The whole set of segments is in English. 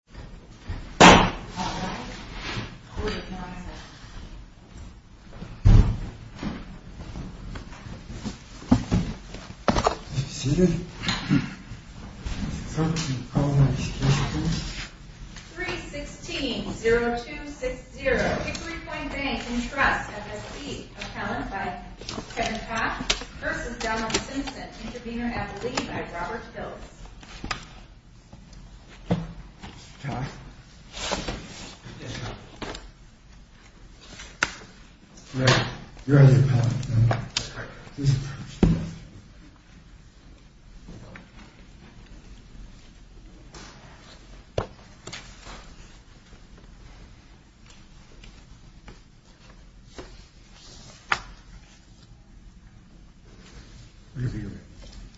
316-0260, Hickory Point Bank & Trust, F.S.B., Appellant by Kevin Papp, v. Donald Simpson, and Intervenor Adelaide by Robert Pills. Thank you,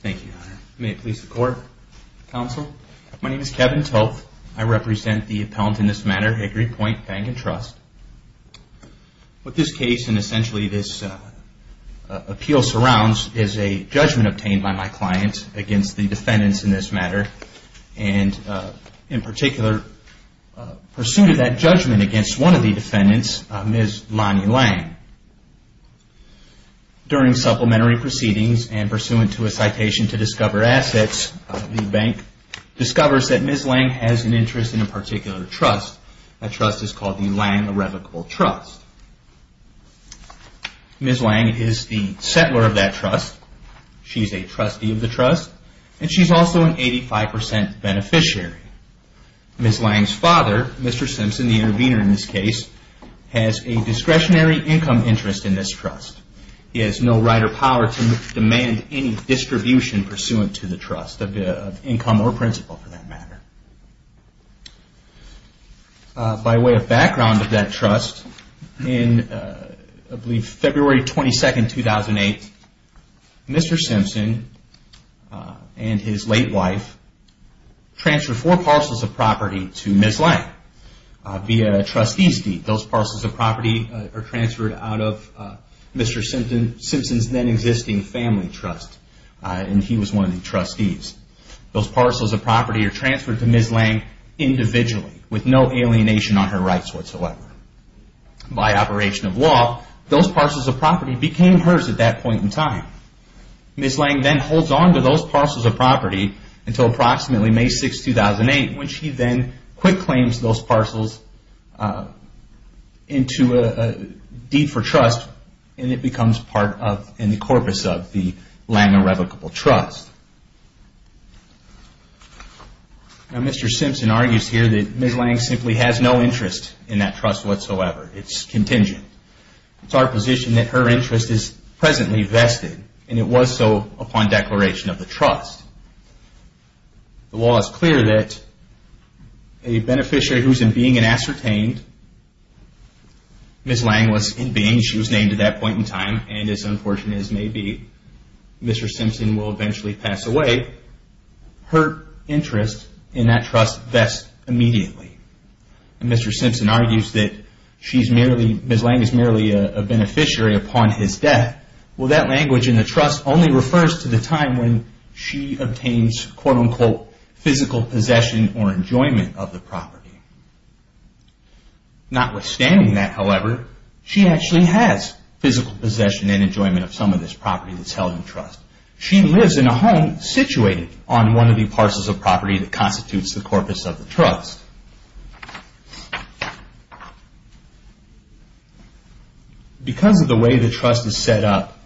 Your Honor. May it please the Court, Counsel? My name is Kevin Toth. I represent the appellant in this matter, Hickory Point Bank & Trust. What this case and essentially this appeal surrounds is a judgment obtained by my client against the defendants in this matter. And in particular, pursuant to that judgment against one of the defendants, Ms. Lonnie Lang, during supplementary proceedings and pursuant to a citation to discover assets, the bank discovers that Ms. Lang has an interest in a particular trust. That trust is called the Lang Irrevocable Trust. Ms. Lang is the settler of that trust. She's a trustee of the trust, and she's also an 85% beneficiary. Ms. Lang's father, Mr. Simpson, the intervenor in this case, has a discretionary income interest in this trust. He has no right or power to demand any distribution pursuant to the trust of income or principal for that matter. By way of background of that trust, in I believe February 22, 2008, Mr. Simpson and his late wife transferred four parcels of property to Ms. Lang via a trustee's deed. Those parcels of property are transferred out of Mr. Simpson's then existing family trust, and he was one of the trustees. Those parcels of property are transferred to Ms. Lang individually, with no alienation on her rights whatsoever. By operation of law, those parcels of property became hers at that point in time. Ms. Lang then holds on to those parcels of property until approximately May 6, 2008, when she then quick claims those parcels into a deed for trust, and it becomes part of the corpus of the Lang Irrevocable Trust. Now, Mr. Simpson argues here that Ms. Lang simply has no interest in that trust whatsoever. It's contingent. It's our position that her interest is presently vested, and it was so upon declaration of the trust. The law is clear that a beneficiary who's in being and ascertained, Ms. Lang was in being, she was named at that point in time, and as unfortunate as it may be, Mr. Simpson will eventually pass away. Her interest in that trust vests immediately. Mr. Simpson argues that Ms. Lang is merely a beneficiary upon his death. Well, that language in the trust only refers to the time when she obtains, quote, unquote, physical possession or enjoyment of the property. Notwithstanding that, however, she actually has physical possession and enjoyment of some of this property that's held in trust. She lives in a home situated on one of the parcels of property that constitutes the corpus of the trust. Because of the way the trust is set up,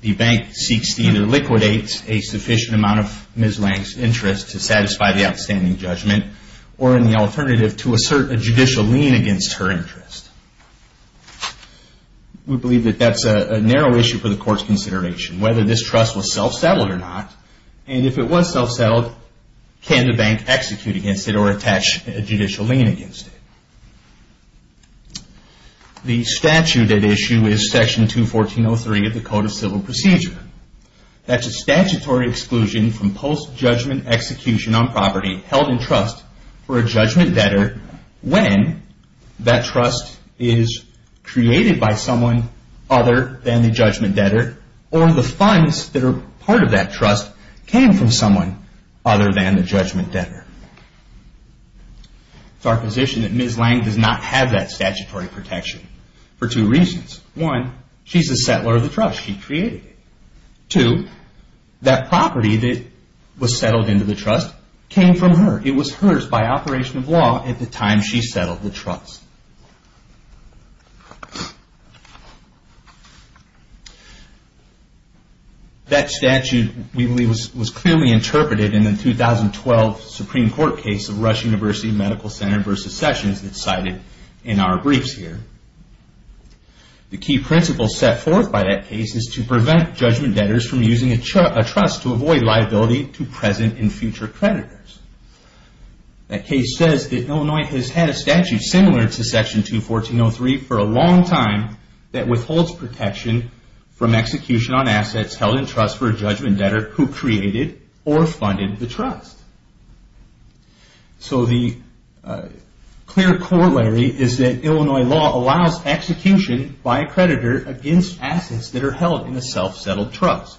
the bank seeks to either liquidate a sufficient amount of Ms. Lang's interest to satisfy the outstanding judgment, or in the alternative, to assert a judicial lien against her interest. We believe that that's a narrow issue for the court's consideration, whether this trust was self-settled or not, and if it was self-settled, can the bank execute against it or attach a judicial lien against it? The statute at issue is Section 214.03 of the Code of Civil Procedure. That's a statutory exclusion from post-judgment execution on property held in trust for a judgment debtor when that trust is created by someone other than the judgment debtor, or the funds that are part of that trust came from someone other than the judgment debtor. It's our position that Ms. Lang does not have that statutory protection for two reasons. One, she's a settler of the trust. She created it. Two, that property that was settled into the trust came from her. It was hers by operation of law at the time she settled the trust. That statute, we believe, was clearly interpreted in the 2012 Supreme Court case of Rush University Medical Center versus Sessions that's cited in our briefs here. The key principle set forth by that case is to prevent judgment debtors from using a trust to avoid liability to present and future creditors. That case says that Illinois has had a statute similar to Section 214.03 for a long time that withholds protection from execution on assets held in trust for a judgment debtor who created or funded the trust. The clear corollary is that Illinois law allows execution by a creditor against assets that are held in a self-settled trust.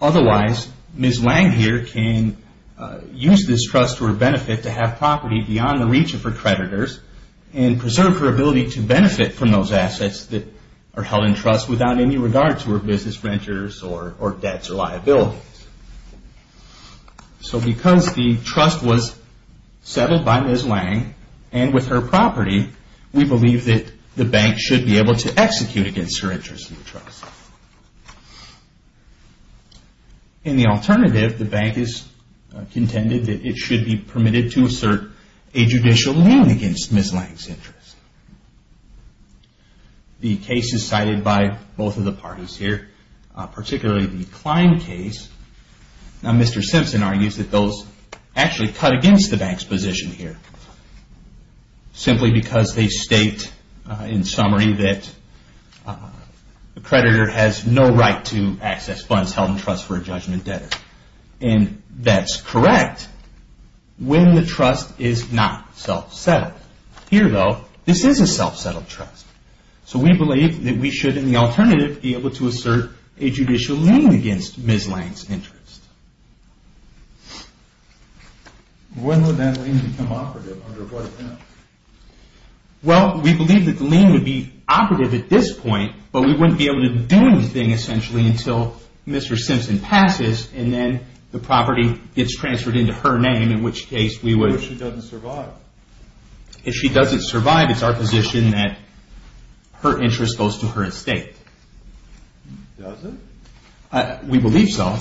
Otherwise, Ms. Lang here can use this trust for benefit to have property beyond the reach of her creditors and preserve her ability to benefit from those assets that are held in trust without any regard to her business renters or debts or liabilities. So because the trust was settled by Ms. Lang and with her property, we believe that the bank should be able to execute against her interest in the trust. In the alternative, the bank has contended that it should be permitted to assert a judicial loan against Ms. Lang's interest. The case is cited by both of the parties here, particularly the Klein case. Now Mr. Simpson argues that those actually cut against the bank's position here simply because they state in summary that a creditor has no right to access funds held in trust for a judgment debtor. And that's correct when the trust is not self-settled. Here though, this is a self-settled trust. So we believe that we should, in the alternative, be able to assert a judicial lien against Ms. Lang's interest. When would that lien become operative? Well, we believe that the lien would be operative at this point, but we wouldn't be able to do anything essentially until Mr. Simpson passes and then the property gets transferred into her name, in which case we would... If she doesn't survive, it's our position that her interest goes to her estate. Does it? We believe so.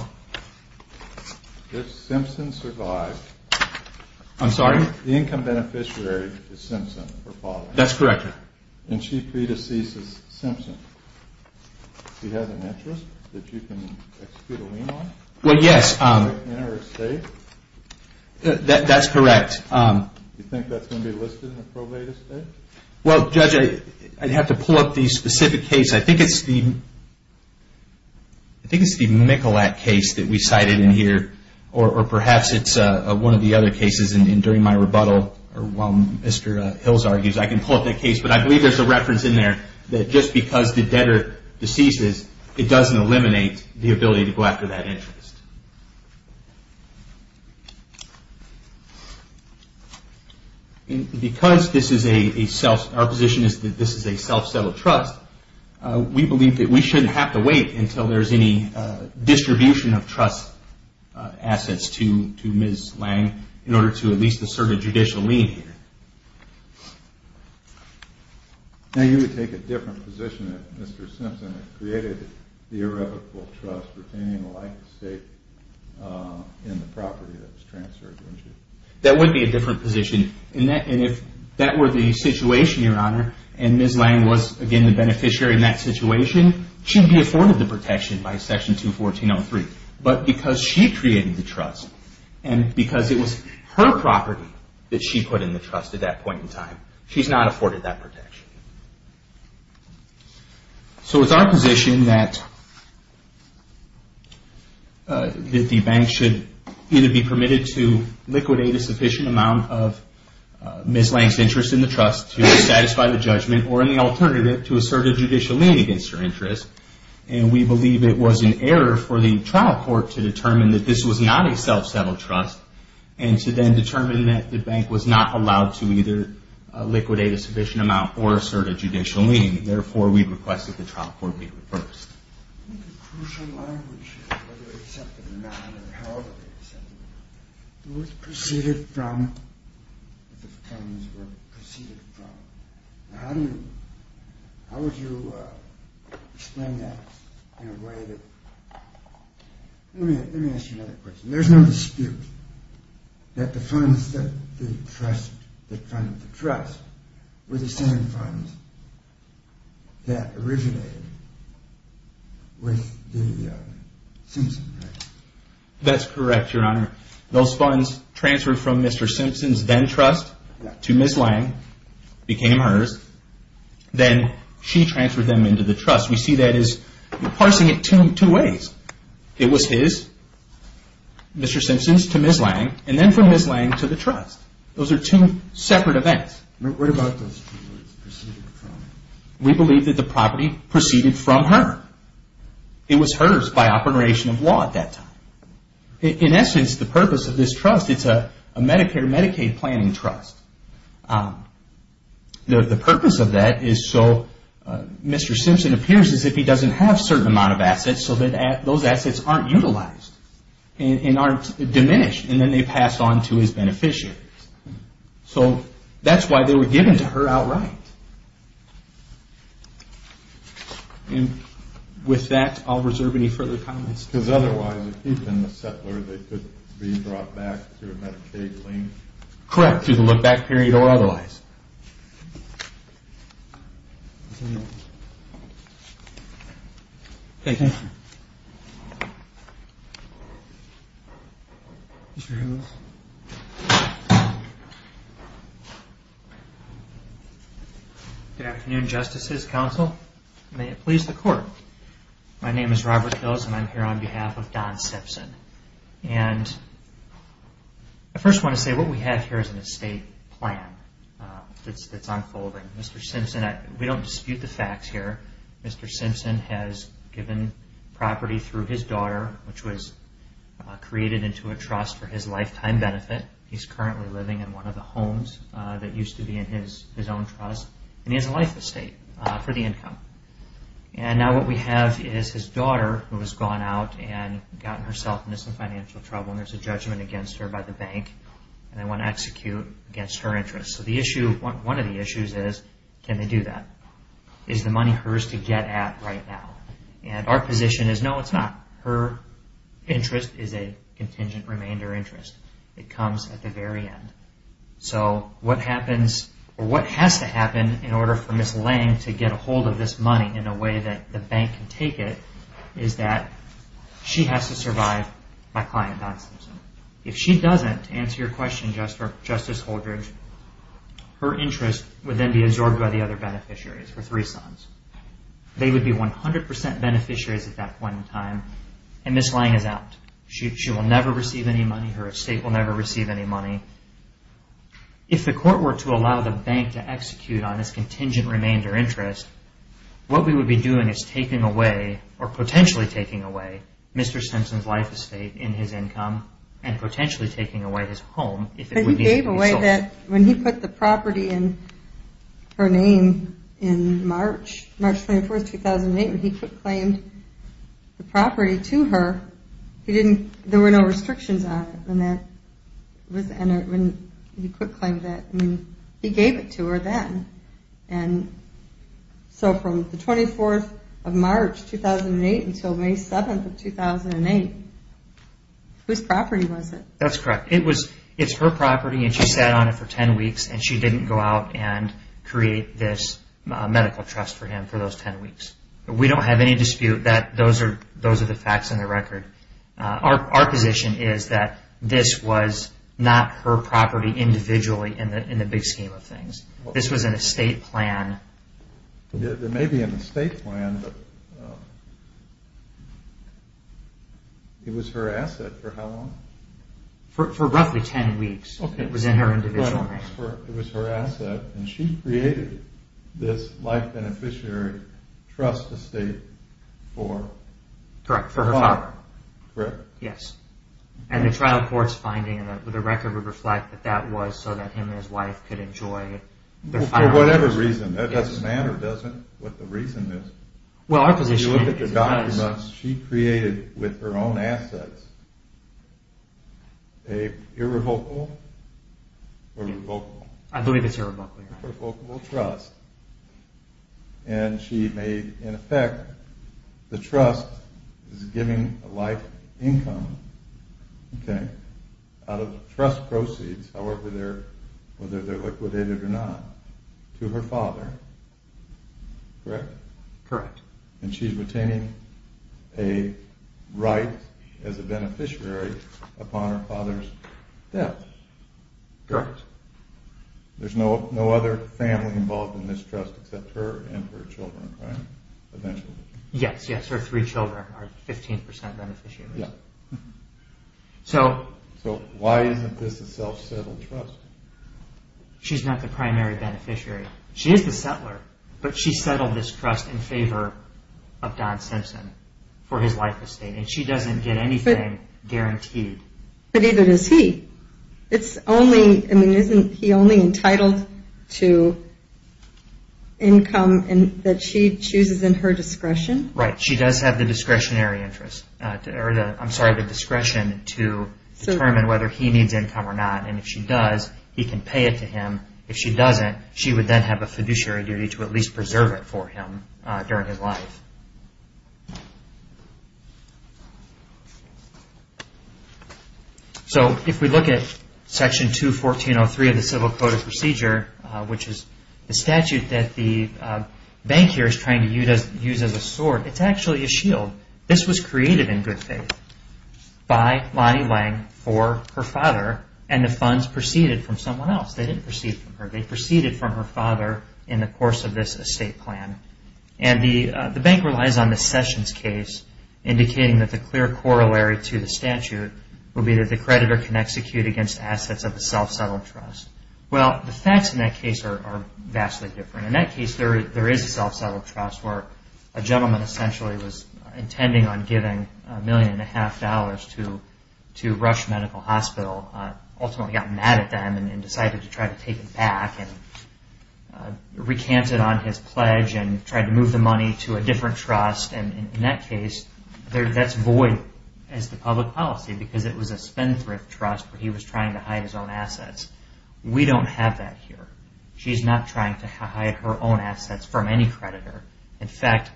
If Simpson survived... I'm sorry? The income beneficiary is Simpson, her father. That's correct. And she predeceases Simpson. She has an interest that you can execute a lien on? Well, yes. In her estate? That's correct. Do you think that's going to be listed in the probate estate? Well, Judge, I'd have to pull up the specific case. I think it's the Michalak case that we cited in here, or perhaps it's one of the other cases during my rebuttal. While Mr. Hills argues, I can pull up that case, but I believe there's a reference in there that just because the debtor deceases, it doesn't eliminate the ability to go after that interest. Because our position is that this is a self-settled trust, we believe that we shouldn't have to wait until there's any distribution of trust assets to Ms. Lang in order to at least assert a judicial lien here. Now, you would take a different position if Mr. Simpson had created the irrevocable trust retaining the life estate in the property that was transferred to him? That would be a different position. And if that were the situation, Your Honor, and Ms. Lang was, again, the beneficiary in that situation, she'd be afforded the protection by Section 214.03. But because she created the trust and because it was her property that she put in the trust at that point in time, she's not afforded that protection. So it's our position that the bank should either be permitted to liquidate a sufficient amount of Ms. Lang's interest in the trust to satisfy the judgment, or in the alternative, to assert a judicial lien against her interest. And we believe it was an error for the trial court to determine that this was not a self-settled trust and to then determine that the bank was not allowed to either liquidate a sufficient amount or assert a judicial lien. Therefore, we requested the trial court be reversed. I think a crucial line would be whether they accepted or not, or however they accepted it. It was preceded from, the claims were preceded from. Now, how would you explain that in a way that... Let me ask you another question. There's no dispute that the funds that funded the trust were the same funds that originated with the Simpsons, right? That's correct, Your Honor. Those funds transferred from Mr. Simpson's then-trust to Ms. Lang, became hers. Then she transferred them into the trust. We see that as parsing it two ways. It was his, Mr. Simpson's, to Ms. Lang, and then from Ms. Lang to the trust. Those are two separate events. What about those two? We believe that the property preceded from her. It was hers by operation of law at that time. In essence, the purpose of this trust, it's a Medicare-Medicaid planning trust. The purpose of that is so Mr. Simpson appears as if he doesn't have a certain amount of assets so that those assets aren't utilized and aren't diminished, and then they pass on to his beneficiaries. So that's why they were given to her outright. With that, I'll reserve any further comments. Because otherwise, if he'd been the settler, they could be brought back through a Medicaid lien? Correct, through the look-back period or otherwise. Thank you. Mr. Hillis. Good afternoon, Justices, Counsel. May it please the Court. My name is Robert Hillis, and I'm here on behalf of Don Simpson. And I first want to say what we have here is an estate plan that's unfolding. Mr. Simpson, we don't dispute the facts here. Mr. Simpson has given property through his daughter, which was created into a trust for his lifetime benefit. He's currently living in one of the homes that used to be in his own trust, and he has a life estate for the income. And now what we have is his daughter, who has gone out and gotten herself into some financial trouble, and there's a judgment against her by the bank, and they want to execute against her interests. So one of the issues is, can they do that? Is the money hers to get at right now? And our position is, no, it's not. Her interest is a contingent remainder interest. It comes at the very end. So what happens, or what has to happen, in order for Ms. Lange to get a hold of this money in a way that the bank can take it, is that she has to survive by client, Don Simpson. If she doesn't, to answer your question, Justice Holdridge, her interest would then be absorbed by the other beneficiaries, her three sons. They would be 100% beneficiaries at that point in time, and Ms. Lange is out. She will never receive any money. Her estate will never receive any money. If the court were to allow the bank to execute on this contingent remainder interest, what we would be doing is taking away, or potentially taking away, Mr. Simpson's life estate in his income, and potentially taking away his home if it would be sold. But he gave away that when he put the property in her name in March, March 24, 2008, when he claimed the property to her, there were no restrictions on it. He gave it to her then. So from the 24th of March, 2008, until May 7, 2008, whose property was it? That's correct. It's her property, and she sat on it for 10 weeks, and she didn't go out and create this medical trust for him for those 10 weeks. We don't have any dispute that those are the facts and the record. Our position is that this was not her property individually in the big scheme of things. This was an estate plan. It may be an estate plan, but it was her asset for how long? For roughly 10 weeks it was in her individual name. It was her asset, and she created this life beneficiary trust estate for her father. Correct? Yes. And the trial court's finding and the record would reflect that that was so that him and his wife could enjoy their final years. For whatever reason. It doesn't matter, does it, what the reason is. If you look at the documents she created with her own assets, a irrevocable or revocable? I believe it's irrevocable. Irrevocable trust, and she made, in effect, the trust is giving a life income, okay, out of trust proceeds, however they're, whether they're liquidated or not, to her father. Correct? Correct. And she's retaining a right as a beneficiary upon her father's death. Correct. There's no other family involved in this trust except her and her children, right? Eventually. Yes, yes, her three children are 15% beneficiaries. So why isn't this a self-settled trust? She's not the primary beneficiary. She is the settler, but she settled this trust in favor of Don Simpson for his life estate, and she doesn't get anything guaranteed. But neither does he. It's only, I mean, isn't he only entitled to income that she chooses in her discretion? Right, she does have the discretionary interest, or I'm sorry, the discretion to determine whether he needs income or not, and if she does, he can pay it to him. If she doesn't, she would then have a fiduciary duty to at least preserve it for him during his life. So if we look at Section 214.03 of the Civil Code of Procedure, which is the statute that the bank here is trying to use as a sword, it's actually a shield. This was created in good faith by Lonnie Lang for her father, and the funds proceeded from someone else. They didn't proceed from her. They proceeded from her father in the course of this estate plan. And the bank relies on the Sessions case, indicating that the clear corollary to the statute would be that the creditor can execute against assets of the self-settled trust. Well, the facts in that case are vastly different. In that case, there is a self-settled trust, where a gentleman essentially was intending on giving $1.5 million to Rush Medical Hospital, ultimately got mad at them and decided to try to take it back, and recanted on his pledge and tried to move the money to a different trust. And in that case, that's void as to public policy, because it was a spendthrift trust where he was trying to hide his own assets. We don't have that here. She's not trying to hide her own assets from any creditor. In fact,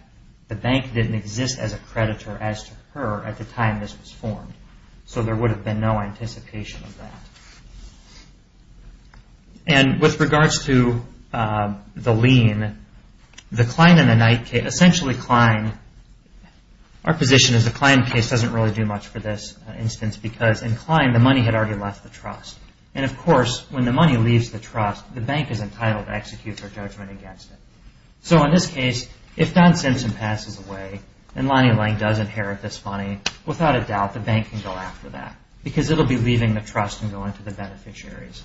the bank didn't exist as a creditor as to her at the time this was formed. So there would have been no anticipation of that. And with regards to the lien, the Klein and the Knight case, essentially Klein, our position is the Klein case doesn't really do much for this instance, because in Klein, the money had already left the trust. And of course, when the money leaves the trust, the bank is entitled to execute their judgment against it. So in this case, if Don Simpson passes away and Lonnie Lang does inherit this money, without a doubt, the bank can go after that, because it will be leaving the trust and going to the beneficiaries.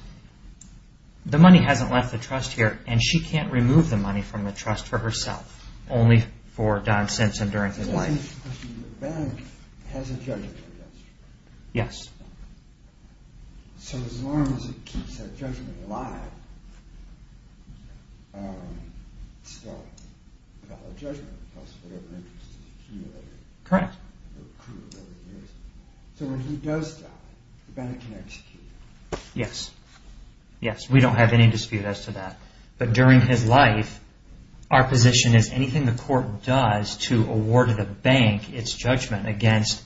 The money hasn't left the trust here, and she can't remove the money from the trust for herself, only for Don Simpson during his life. The bank has a judgment against her, right? Yes. So as long as it keeps that judgment alive, it's still valid judgment, plus whatever interest it accumulated. Correct. So when he does die, the bank can execute it. Yes. Yes, we don't have any dispute as to that. But during his life, our position is anything the court does to award the bank its judgment against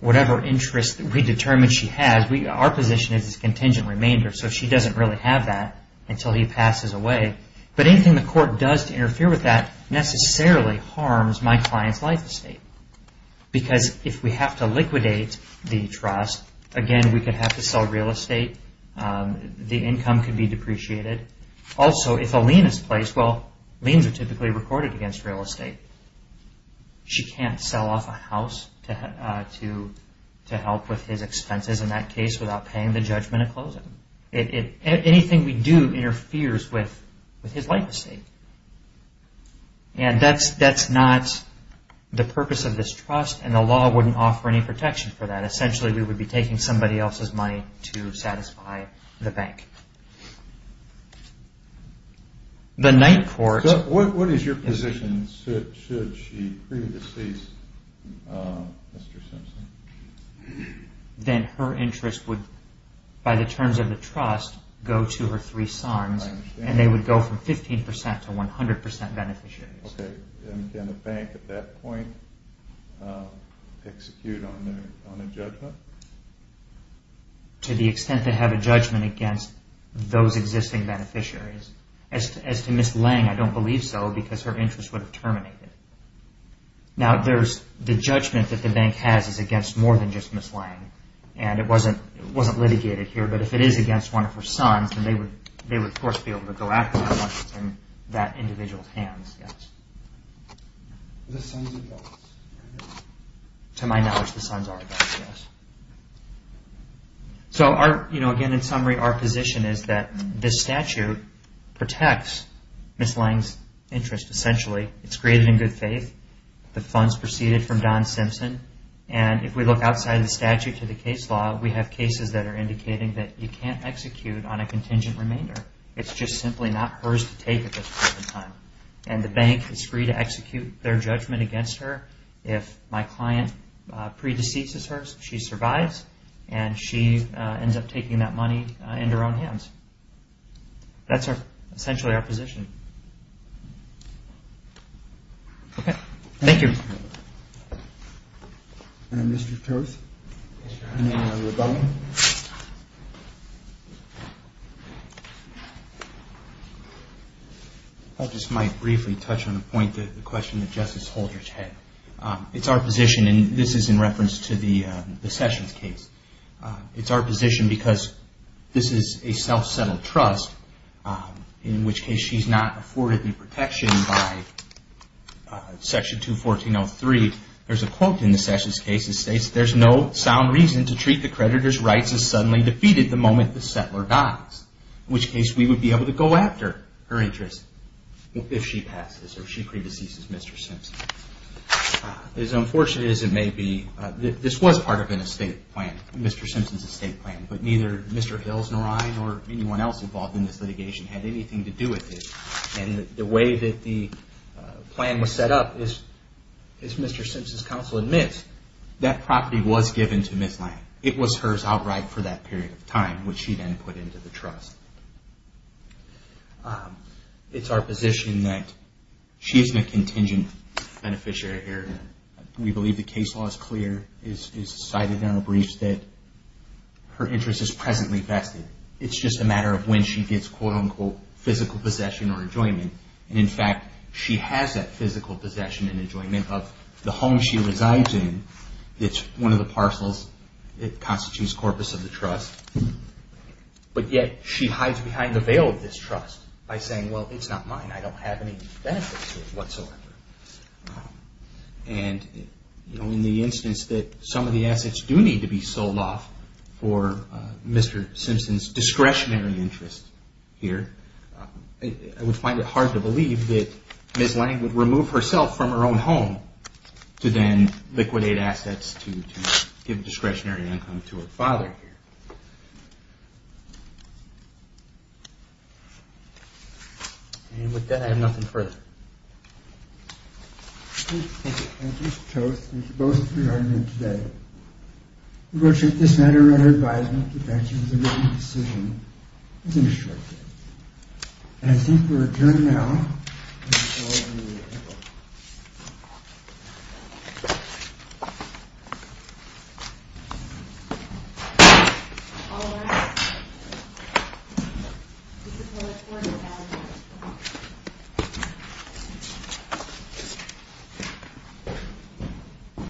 whatever interest we determine she has, our position is contingent remainder, so she doesn't really have that until he passes away. But anything the court does to interfere with that necessarily harms my client's life estate. Because if we have to liquidate the trust, again, we could have to sell real estate, the income could be depreciated. Also, if a lien is placed, well, liens are typically recorded against real estate. She can't sell off a house to help with his expenses in that case without paying the judgment of closing. Anything we do interferes with his life estate. And that's not the purpose of this trust, and the law wouldn't offer any protection for that. What is your position? Should she pre-decease Mr. Simpson? Then her interest would, by the terms of the trust, go to her three sons, and they would go from 15% to 100% beneficiaries. Can the bank at that point execute on a judgment? To the extent they have a judgment against those existing beneficiaries. As to Ms. Lange, I don't believe so, because her interest would have terminated. Now, the judgment that the bank has is against more than just Ms. Lange, and it wasn't litigated here, but if it is against one of her sons, then they would, of course, be able to go after that individual's hands. The sons or daughters? To my knowledge, the sons or daughters, yes. Again, in summary, our position is that this statute protects Ms. Lange's interest, essentially. It's created in good faith. The funds proceeded from Don Simpson. And if we look outside the statute to the case law, we have cases that are indicating that you can't execute on a contingent remainder. It's just simply not hers to take at this point in time. And the bank is free to execute their judgment against her if my client pre-deceases her, she survives, and she ends up taking that money into her own hands. That's essentially our position. Okay. Thank you. Mr. Toth? Mr. Hunt. I just might briefly touch on the point, the question that Justice Holdridge had. It's our position, and this is in reference to the Sessions case. It's our position because this is a self-settled trust, in which case she's not afforded the protection by Section 214.03. There's a quote in the Sessions case. It states, There's no sound reason to treat the creditor's rights as suddenly defeated the moment the settler dies. In which case, we would be able to go after her interest if she passes, or if she pre-deceases Mr. Simpson. As unfortunate as it may be, this was part of an estate plan. Mr. Simpson's estate plan. But neither Mr. Hills, nor I, nor anyone else involved in this litigation, had anything to do with this. And the way that the plan was set up, as Mr. Simpson's counsel admits, that property was given to Ms. Lange. It was hers outright for that period of time, which she then put into the trust. It's our position that she's a contingent beneficiary here. We believe the case law is clear. It is cited in our briefs that her interest is presently vested. It's just a matter of when she gets, quote, unquote, physical possession or enjoyment. And in fact, she has that physical possession and enjoyment of the home she resides in. It's one of the parcels. It constitutes corpus of the trust. But yet, she hides behind the veil of this trust by saying, Well, it's not mine. I don't have any benefits with it whatsoever. And in the instance that some of the assets do need to be sold off for Mr. Simpson's discretionary interest here, I would find it hard to believe that Ms. Lange would remove herself from her own home to then liquidate assets to give discretionary income to her father here. And with that, I have nothing further. Thank you. Thank you, Mr. Toth. Thank you both for your argument today. Unfortunately, this matter of her advisement to mention as a written decision is in a shortcut. And I think we'll adjourn now. Thank you.